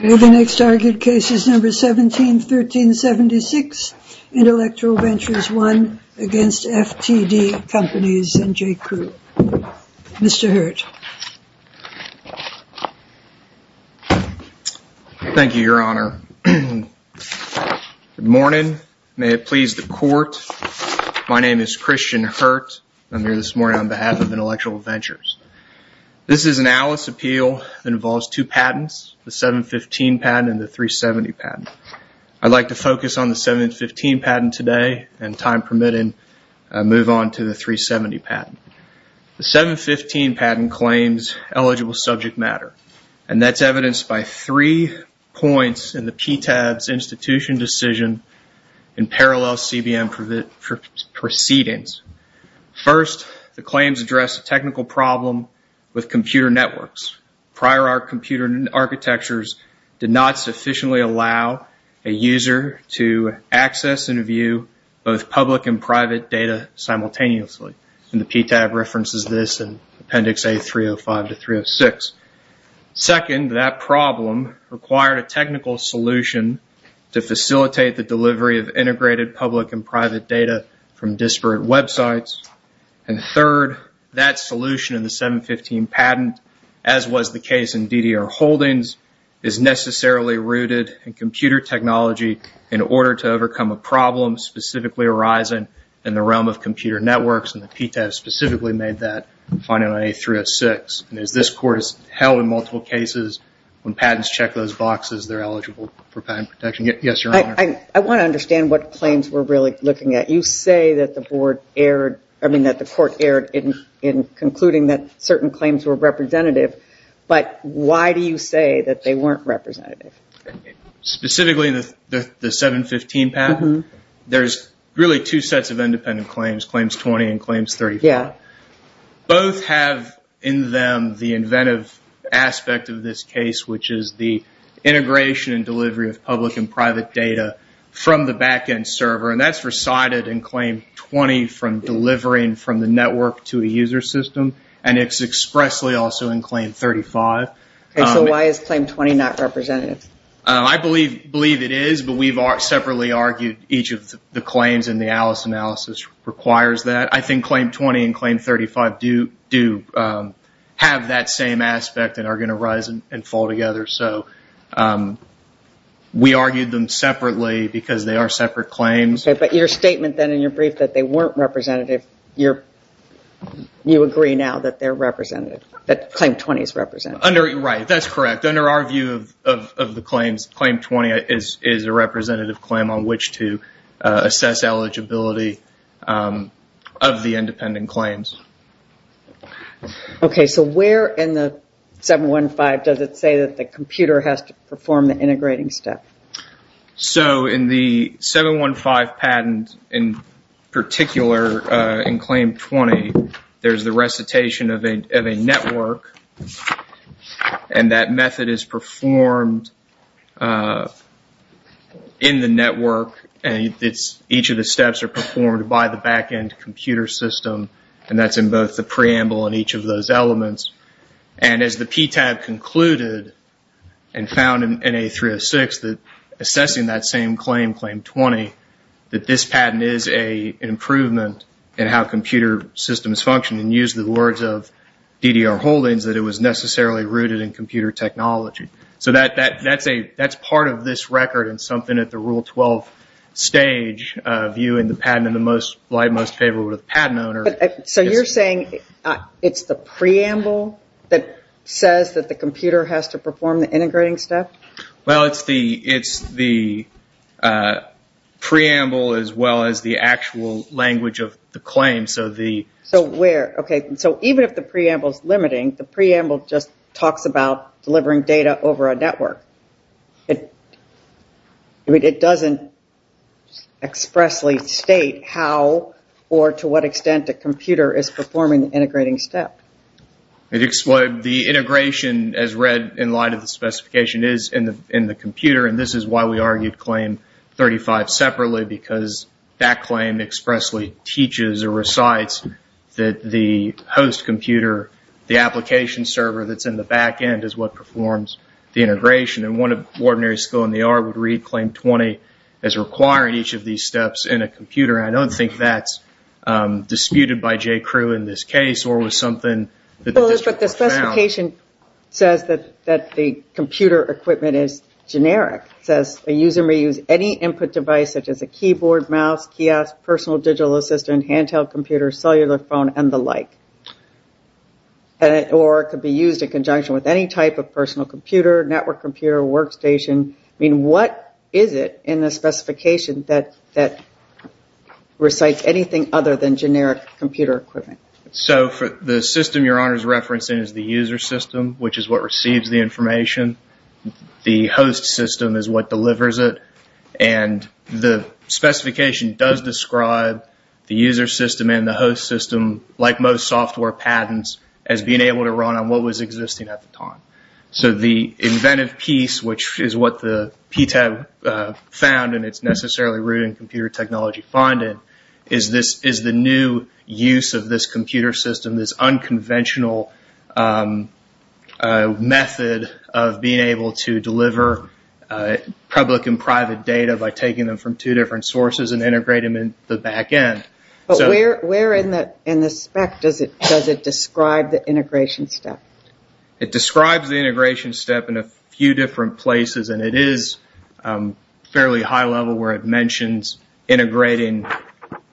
The next argued case is number 171376, Intellectual Ventures I against FTD Companies and J.Crew. Mr. Hurt. Thank you, Your Honor. Good morning. May it please the Court. My name is Christian Hurt. I'm here this morning on behalf of Intellectual Ventures. This is an ALICE appeal that involves two patents, the 715 patent and the 370 patent. I'd like to focus on the 715 patent today and, time permitting, move on to the 370 patent. The 715 patent claims eligible subject matter. And that's evidenced by three points in the PTAD's institution decision in parallel CBM proceedings. First, the claims address a technical problem with computer networks. Prior, our computer architectures did not sufficiently allow a user to access and view both public and private data simultaneously. And the PTAD references this in Appendix A305 to 306. Second, that problem required a technical solution to facilitate the delivery of integrated public and private data from disparate websites. And third, that solution in the 715 patent, as was the case in DDR Holdings, is necessarily rooted in computer technology in order to overcome a problem specifically arising in the realm of computer networks. And the PTAD specifically made that finding on A306. And as this Court has held in multiple cases, when patents check those boxes, they're eligible for patent protection. Yes, Your Honor. I want to understand what claims we're really looking at. You say that the Court erred in concluding that certain claims were representative. But why do you say that they weren't representative? Specifically, the 715 patent, there's really two sets of independent claims, Claims 20 and Claims 34. Both have in them the inventive aspect of this case, which is the integration and delivery of public and private data from the back-end server. And that's recited in Claim 20 from delivering from the network to a user system. And it's expressly also in Claim 35. So why is Claim 20 not representative? I believe it is, but we've separately argued each of the claims in the Alice analysis requires that. I think Claim 20 and Claim 35 do have that same aspect and are going to rise and fall together. So we argued them separately because they are separate claims. Okay, but your statement then in your brief that they weren't representative, you agree now that they're representative, that Claim 20 is representative. Right, that's correct. In fact, under our view of the claims, Claim 20 is a representative claim on which to assess eligibility of the independent claims. Okay, so where in the 715 does it say that the computer has to perform the integrating step? So in the 715 patent, in particular in Claim 20, there's the recitation of a network. And that method is performed in the network, and each of the steps are performed by the back-end computer system. And that's in both the preamble and each of those elements. And as the PTAB concluded and found in NA306 that assessing that same claim, Claim 20, that this patent is an improvement in how computer systems function. And used the words of DDR Holdings that it was necessarily rooted in computer technology. So that's part of this record and something at the Rule 12 stage, viewing the patent in the light most favorable to the patent owner. So you're saying it's the preamble that says that the computer has to perform the integrating step? Well, it's the preamble as well as the actual language of the claim. So even if the preamble is limiting, the preamble just talks about delivering data over a network. It doesn't expressly state how or to what extent the computer is performing the integrating step. The integration as read in light of the specification is in the computer, and this is why we argued Claim 35 separately because that claim expressly teaches or recites that the host computer, the application server that's in the back-end, is what performs the integration. And one ordinary school in the art would read Claim 20 as requiring each of these steps in a computer. And I don't think that's disputed by J.Crew in this case or was something that the district found. The specification says that the computer equipment is generic. It says a user may use any input device such as a keyboard, mouse, kiosk, personal digital assistant, handheld computer, cellular phone, and the like. Or it could be used in conjunction with any type of personal computer, network computer, workstation. I mean, what is it in the specification that recites anything other than generic computer equipment? So the system Your Honor is referencing is the user system, which is what receives the information. The host system is what delivers it, and the specification does describe the user system and the host system, like most software patents, as being able to run on what was existing at the time. So the inventive piece, which is what the PTAB found, and it's necessarily rooted in computer technology finding, is the new use of this computer system, this unconventional method of being able to deliver public and private data by taking them from two different sources and integrating them in the back end. But where in the spec does it describe the integration step? It describes the integration step in a few different places, and it is fairly high level where it mentions integrating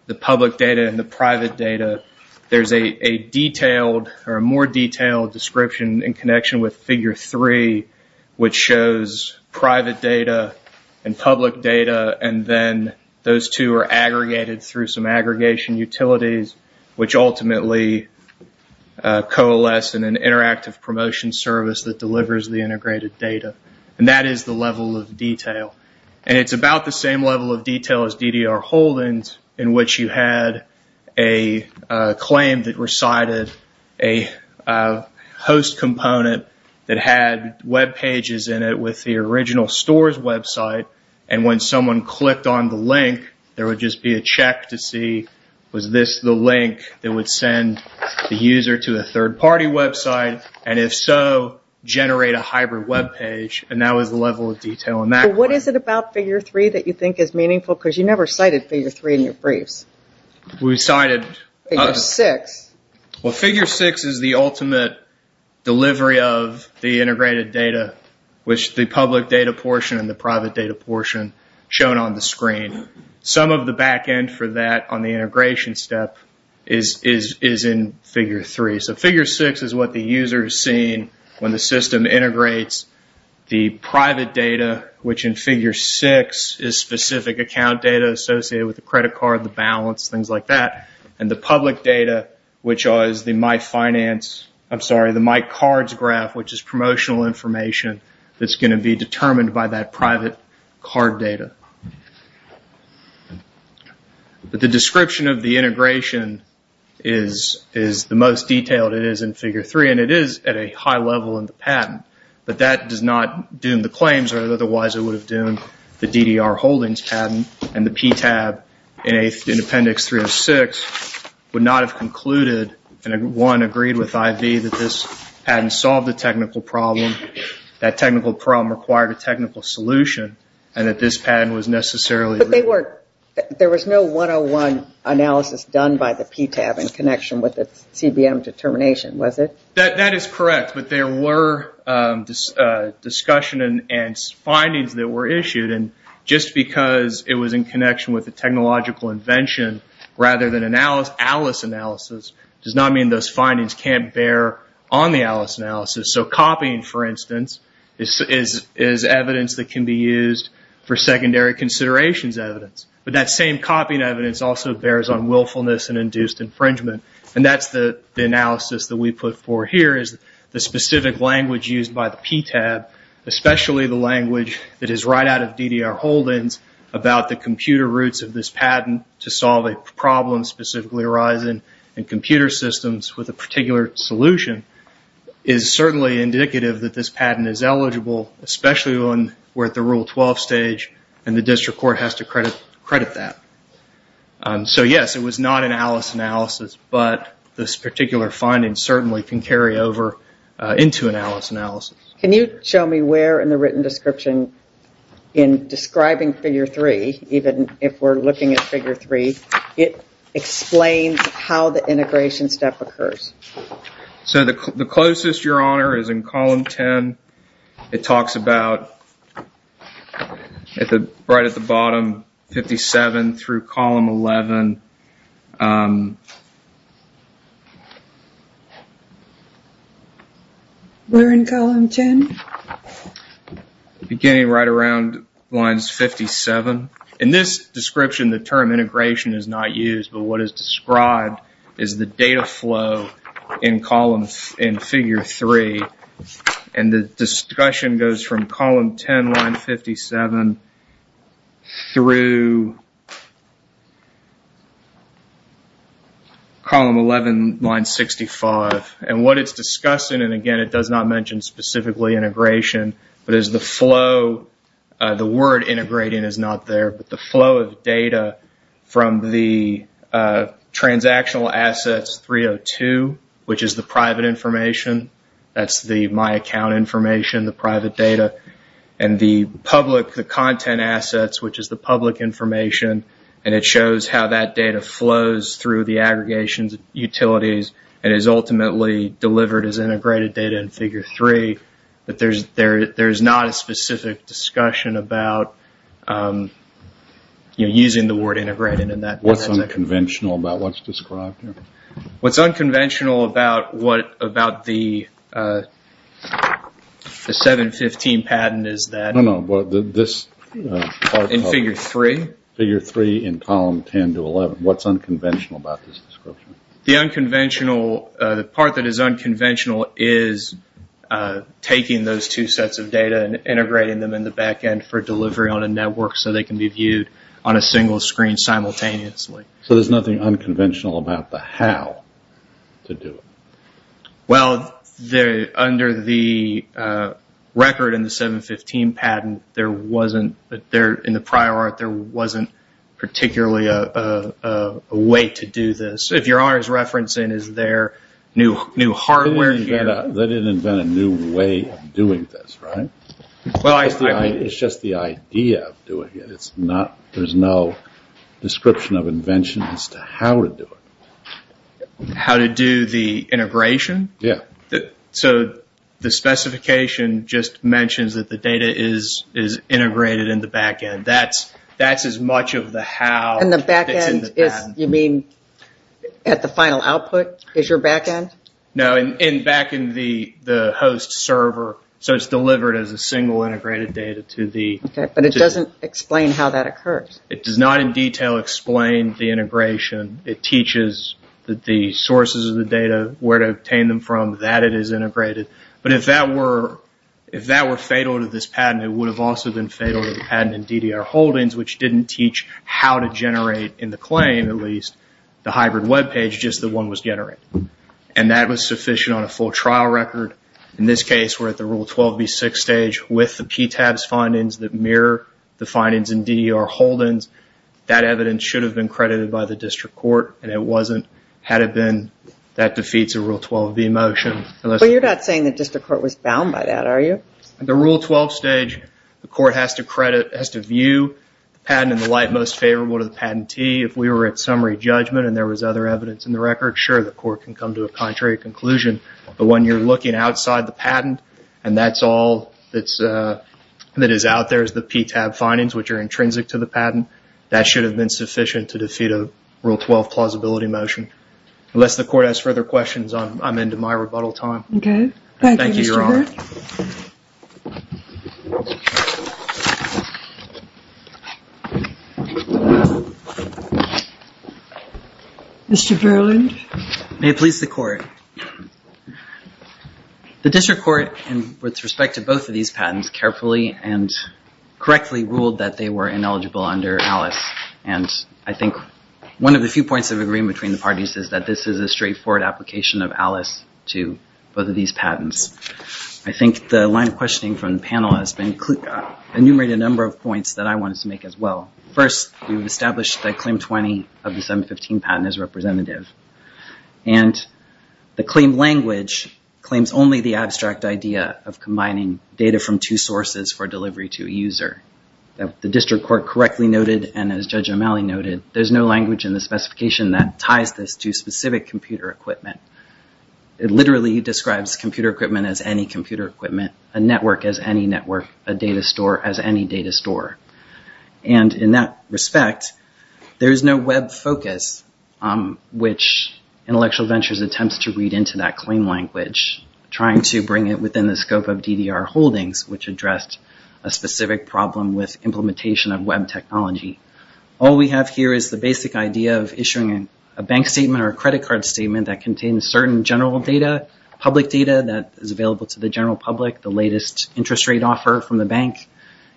the public data and the private data. There's a detailed or a more detailed description in connection with Figure 3, which shows private data and public data, and then those two are aggregated through some aggregation utilities, which ultimately coalesce in an interactive promotion service that delivers the integrated data. And that is the level of detail. And it's about the same level of detail as DDR Holdings, in which you had a claim that recited a host component that had web pages in it with the original store's website, and when someone clicked on the link, there would just be a check to see, was this the link that would send the user to a third-party website, and if so, generate a hybrid web page. And that was the level of detail in that one. What is it about Figure 3 that you think is meaningful? Because you never cited Figure 3 in your briefs. We cited... Figure 6. Well, Figure 6 is the ultimate delivery of the integrated data, which the public data portion and the private data portion shown on the screen. Some of the back end for that on the integration step is in Figure 3. So Figure 6 is what the user is seeing when the system integrates the private data, which in Figure 6 is specific account data associated with the credit card, the balance, things like that, and the public data, which is the MyCards graph, which is promotional information that's going to be determined by that private card data. But the description of the integration is the most detailed it is in Figure 3, and it is at a high level in the patent, but that does not doom the claims, or otherwise it would have doomed the DDR holdings patent, and the PTAB in Appendix 306 would not have concluded and, one, agreed with IV that this patent solved the technical problem, that technical problem required a technical solution, and that this patent was necessarily... But there was no 101 analysis done by the PTAB in connection with the CBM determination, was it? That is correct, but there were discussion and findings that were issued, and just because it was in connection with a technological invention rather than an ALICE analysis does not mean those findings can't bear on the ALICE analysis. So copying, for instance, is evidence that can be used for secondary considerations evidence, but that same copying evidence also bears on willfulness and induced infringement, and that's the analysis that we put for here is the specific language used by the PTAB, especially the language that is right out of DDR holdings about the computer roots of this patent to solve a problem specifically arising in computer systems with a particular solution is certainly indicative that this patent is eligible, especially when we're at the Rule 12 stage and the district court has to credit that. So yes, it was not an ALICE analysis, but this particular finding certainly can carry over into an ALICE analysis. Can you show me where in the written description in describing Figure 3, even if we're looking at Figure 3, it explains how the integration step occurs? So the closest, Your Honor, is in Column 10. It talks about right at the bottom, 57 through Column 11. We're in Column 10? Beginning right around lines 57. In this description, the term integration is not used, but what is described is the data flow in Figure 3, and the discussion goes from Column 10, line 57, through Column 11, line 65. And what it's discussing, and again, it does not mention specifically integration, but is the flow, the word integrating is not there, but the flow of data from the transactional assets 302, which is the private information. That's the My Account information, the private data. And the public, the content assets, which is the public information, and it shows how that data flows through the aggregations, utilities, and is ultimately delivered as integrated data in Figure 3, but there's not a specific discussion about using the word integrated. What's unconventional about what's described here? What's unconventional about the 715 patent is that in Figure 3. Figure 3 in Column 10 to 11, what's unconventional about this description? The part that is unconventional is taking those two sets of data and integrating them in the back end for delivery on a network so they can be viewed on a single screen simultaneously. So there's nothing unconventional about the how to do it? Well, under the record in the 715 patent, in the prior art, there wasn't particularly a way to do this. If you're always referencing, is there new hardware here? They didn't invent a new way of doing this, right? It's just the idea of doing it. There's no description of invention as to how to do it. How to do the integration? Yeah. So the specification just mentions that the data is integrated in the back end. That's as much of the how that's in the patent. And the back end, you mean at the final output is your back end? No, back in the host server. So it's delivered as a single integrated data. But it doesn't explain how that occurs. It does not in detail explain the integration. It teaches the sources of the data, where to obtain them from, that it is integrated. But if that were fatal to this patent, it would have also been fatal to the patent in DDR Holdings, which didn't teach how to generate in the claim, at least, the hybrid web page, just that one was generated. And that was sufficient on a full trial record. In this case, we're at the Rule 12b6 stage with the PTAB's findings that mirror the findings in DDR Holdings. That evidence should have been credited by the district court, and it wasn't had it been that defeats a Rule 12b motion. But you're not saying the district court was bound by that, are you? At the Rule 12 stage, the court has to credit, has to view the patent in the light most favorable to the patentee. If we were at summary judgment and there was other evidence in the record, sure, the court can come to a contrary conclusion. But when you're looking outside the patent, and that's all that is out there is the PTAB findings, which are intrinsic to the patent, that should have been sufficient to defeat a Rule 12 plausibility motion. Unless the court has further questions, I'm into my rebuttal time. Okay. Thank you, Mr. Burke. Thank you, Your Honor. Mr. Berland. May it please the court. The district court, with respect to both of these patents, carefully and correctly ruled that they were ineligible under Alice. And I think one of the few points of agreement between the parties is that this is a straightforward application of Alice to both of these patents. I think the line of questioning from the panel has enumerated a number of points that I wanted to make as well. First, we've established that Claim 20 of the 715 patent is representative. And the claim language claims only the abstract idea of combining data from two sources for delivery to a user. The district court correctly noted, and as Judge O'Malley noted, there's no language in the specification that ties this to specific computer equipment. It literally describes computer equipment as any computer equipment, a network as any network, a data store as any data store. And in that respect, there is no web focus, which Intellectual Ventures attempts to read into that claim language, trying to bring it within the scope of DDR holdings, which addressed a specific problem with implementation of web technology. All we have here is the basic idea of issuing a bank statement or a credit card statement that contains certain general data, public data that is available to the general public, the latest interest rate offer from the bank,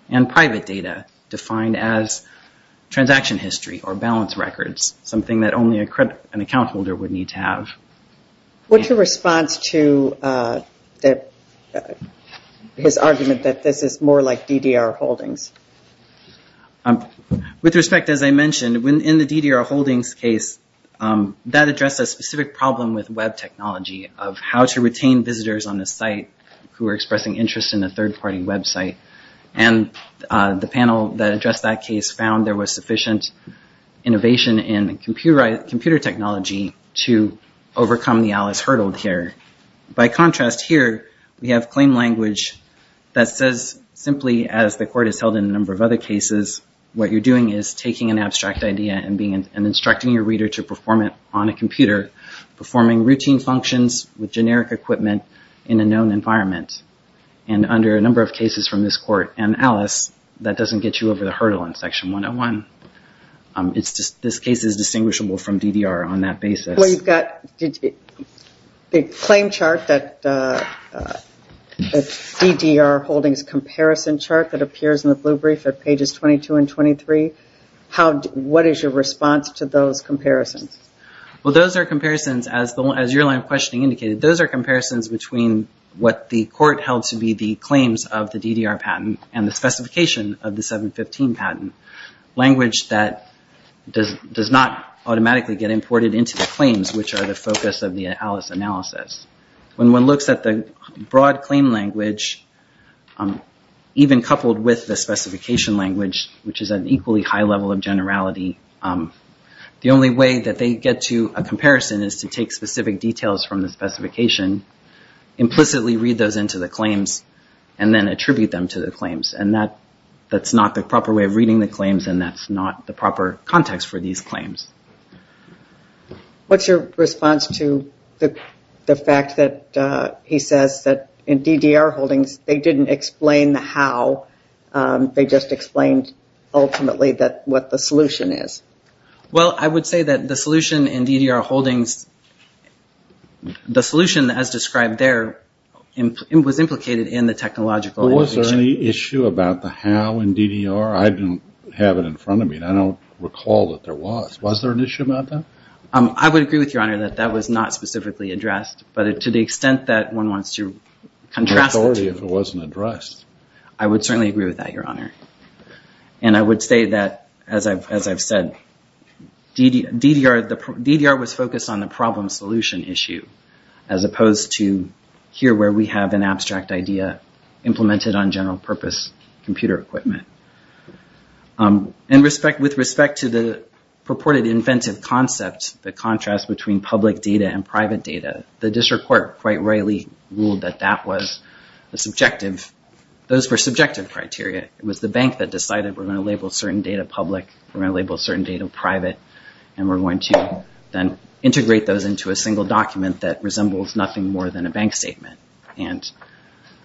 and private data defined as transaction history or balance records, something that only an account holder would need to have. What's your response to his argument that this is more like DDR holdings? With respect, as I mentioned, in the DDR holdings case, that addressed a specific problem with web technology, of how to retain visitors on the site who are expressing interest in a third-party website. And the panel that addressed that case found there was sufficient innovation in computer technology to overcome the Alice hurdle here. By contrast here, we have claim language that says simply, as the court has held in a number of other cases, what you're doing is taking an abstract idea and instructing your reader to perform it on a computer, performing routine functions with generic equipment in a known environment. And under a number of cases from this court and Alice, that doesn't get you over the hurdle in Section 101. This case is distinguishable from DDR on that basis. Well, you've got the claim chart that DDR holdings comparison chart that appears in the blue brief at pages 22 and 23. What is your response to those comparisons? Well, those are comparisons, as your line of questioning indicated, those are comparisons between what the court held to be the claims of the DDR patent and the specification of the 715 patent. Language that does not automatically get imported into the claims, which are the focus of the Alice analysis. When one looks at the broad claim language, even coupled with the specification language, which is an equally high level of generality, the only way that they get to a comparison is to take specific details from the specification, implicitly read those into the claims, and then attribute them to the claims. And that's not the proper way of reading the claims, and that's not the proper context for these claims. What's your response to the fact that he says that in DDR holdings, they didn't explain the how, they just explained ultimately what the solution is? Well, I would say that the solution in DDR holdings, the solution as described there was implicated in the technological innovation. Is there any issue about the how in DDR? I don't have it in front of me, and I don't recall that there was. Was there an issue about that? I would agree with Your Honor that that was not specifically addressed, but to the extent that one wants to contrast the two. Authority if it wasn't addressed. I would certainly agree with that, Your Honor. And I would say that, as I've said, DDR was focused on the problem-solution issue, as opposed to here where we have an abstract idea implemented on general-purpose computer equipment. With respect to the purported inventive concept, the contrast between public data and private data, the district court quite rightly ruled that those were subjective criteria. It was the bank that decided we're going to label certain data public, we're going to label certain data private, and we're going to then integrate those into a single document that resembles nothing more than a bank statement. And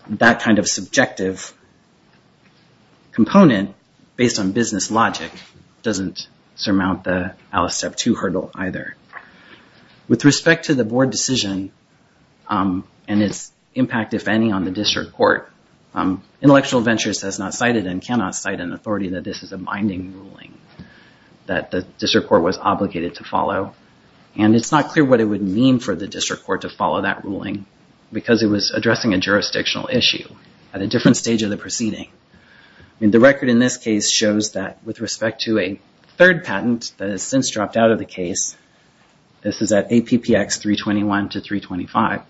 that kind of subjective component, based on business logic, doesn't surmount the Alice Step 2 hurdle either. With respect to the board decision and its impact, if any, on the district court, Intellectual Ventures has not cited and cannot cite an authority that this is a binding ruling, that the district court was obligated to follow. And it's not clear what it would mean for the district court to follow that ruling, because it was addressing a jurisdictional issue at a different stage of the proceeding. The record in this case shows that with respect to a third patent that has since dropped out of the case, this is at APPX 321 to 325,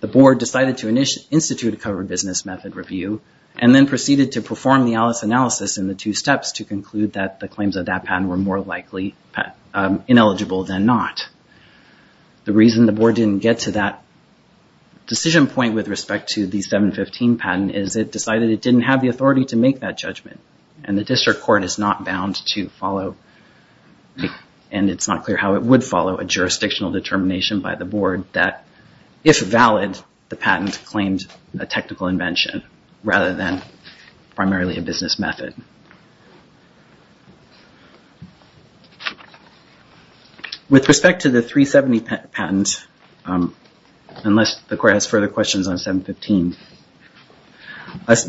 the board decided to institute a covered business method review and then proceeded to perform the Alice analysis in the two steps to conclude that the claims of that patent were more likely ineligible than not. The reason the board didn't get to that decision point with respect to the 715 patent is it decided it didn't have the authority to make that judgment. And the district court is not bound to follow, and it's not clear how it would follow a jurisdictional determination by the board that if valid, the patent claimed a technical invention rather than primarily a business method. With respect to the 370 patent, unless the court has further questions on 715,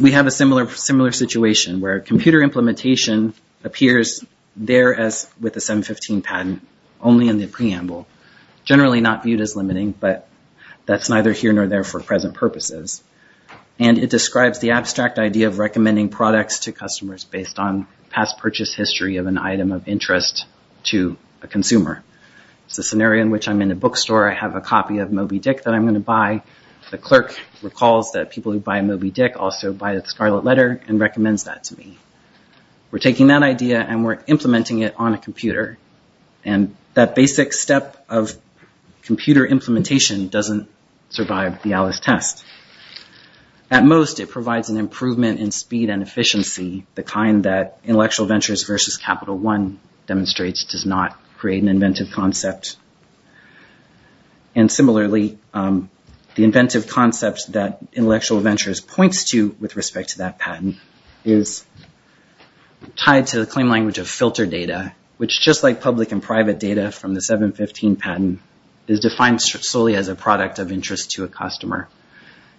we have a similar situation where computer implementation appears there as with the 715 patent only in the preamble, generally not viewed as limiting, but that's neither here nor there for present purposes. And it describes the abstract idea of recommending products to customers based on past purchase history of an item of interest to a consumer. It's a scenario in which I'm in a bookstore. I have a copy of Moby Dick that I'm going to buy. The clerk recalls that people who buy Moby Dick also buy the Scarlet Letter and recommends that to me. And that basic step of computer implementation doesn't survive the ALICE test. At most, it provides an improvement in speed and efficiency, the kind that Intellectual Ventures versus Capital One demonstrates does not create an inventive concept. And similarly, the inventive concepts that Intellectual Ventures points to with respect to that patent is tied to the claim language of filter data, which just like public and private data from the 715 patent is defined solely as a product of interest to a customer.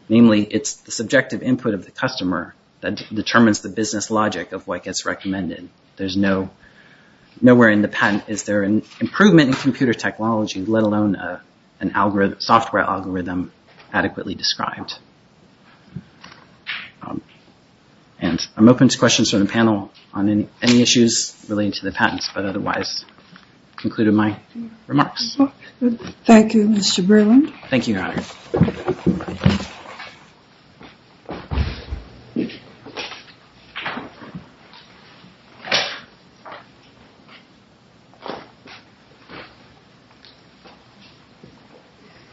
Namely, it's the subjective input of the customer that determines the business logic of what gets recommended. There's nowhere in the patent is there an improvement in computer technology, let alone a software algorithm adequately described. And I'm open to questions from the panel on any issues relating to the patents, but otherwise, I've concluded my remarks. Thank you, Mr. Berlin. Thank you, Your Honor.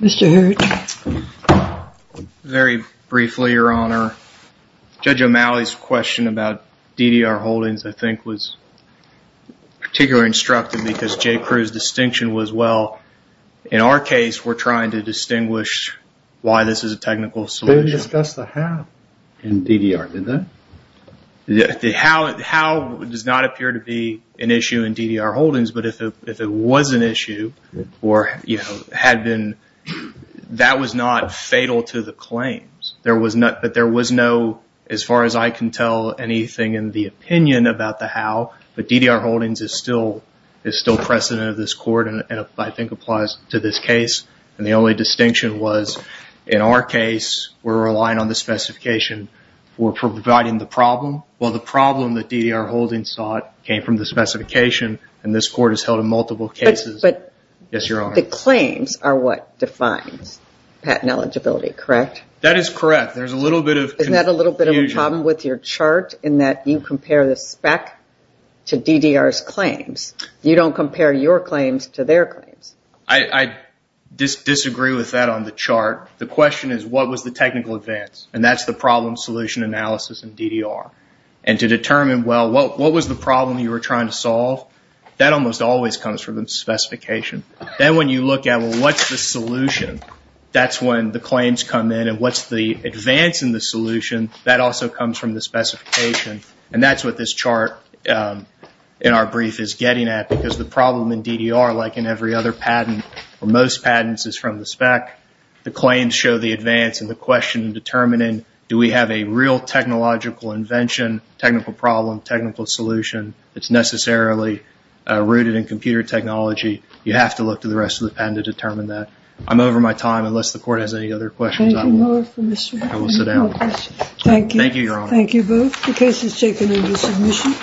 Mr. Hurd. Very briefly, Your Honor. Judge O'Malley's question about DDR holdings, I think, was particularly instructive because Jay Crew's distinction was, well, in our case, we're trying to distinguish why this is a technical solution. They didn't discuss the how in DDR, did they? The how does not appear to be an issue in DDR holdings, but if it was an issue or had been, that was not fatal to the claims. But there was no, as far as I can tell, anything in the opinion about the how, but DDR holdings is still precedent of this court, and I think applies to this case. And the only distinction was, in our case, we're relying on the specification for providing the problem. Well, the problem that DDR holdings sought came from the specification, and this court has held in multiple cases. But the claims are what defines patent eligibility, correct? That is correct. Isn't that a little bit of a problem with your chart, in that you compare the spec to DDR's claims? You don't compare your claims to their claims. I disagree with that on the chart. The question is, what was the technical advance? And that's the problem-solution analysis in DDR. And to determine, well, what was the problem you were trying to solve? That almost always comes from the specification. Then when you look at, well, what's the solution? That's when the claims come in, and what's the advance in the solution? That also comes from the specification, and that's what this chart in our brief is getting at, because the problem in DDR, like in every other patent, or most patents is from the spec. The claims show the advance, and the question in determining, do we have a real technological invention, technical problem, technical solution, that's necessarily rooted in computer technology? You have to look to the rest of the patent to determine that. I'm over my time, unless the Court has any other questions. Thank you both. I will sit down. Thank you. Thank you, Your Honor. Thank you both. The case is taken into submission.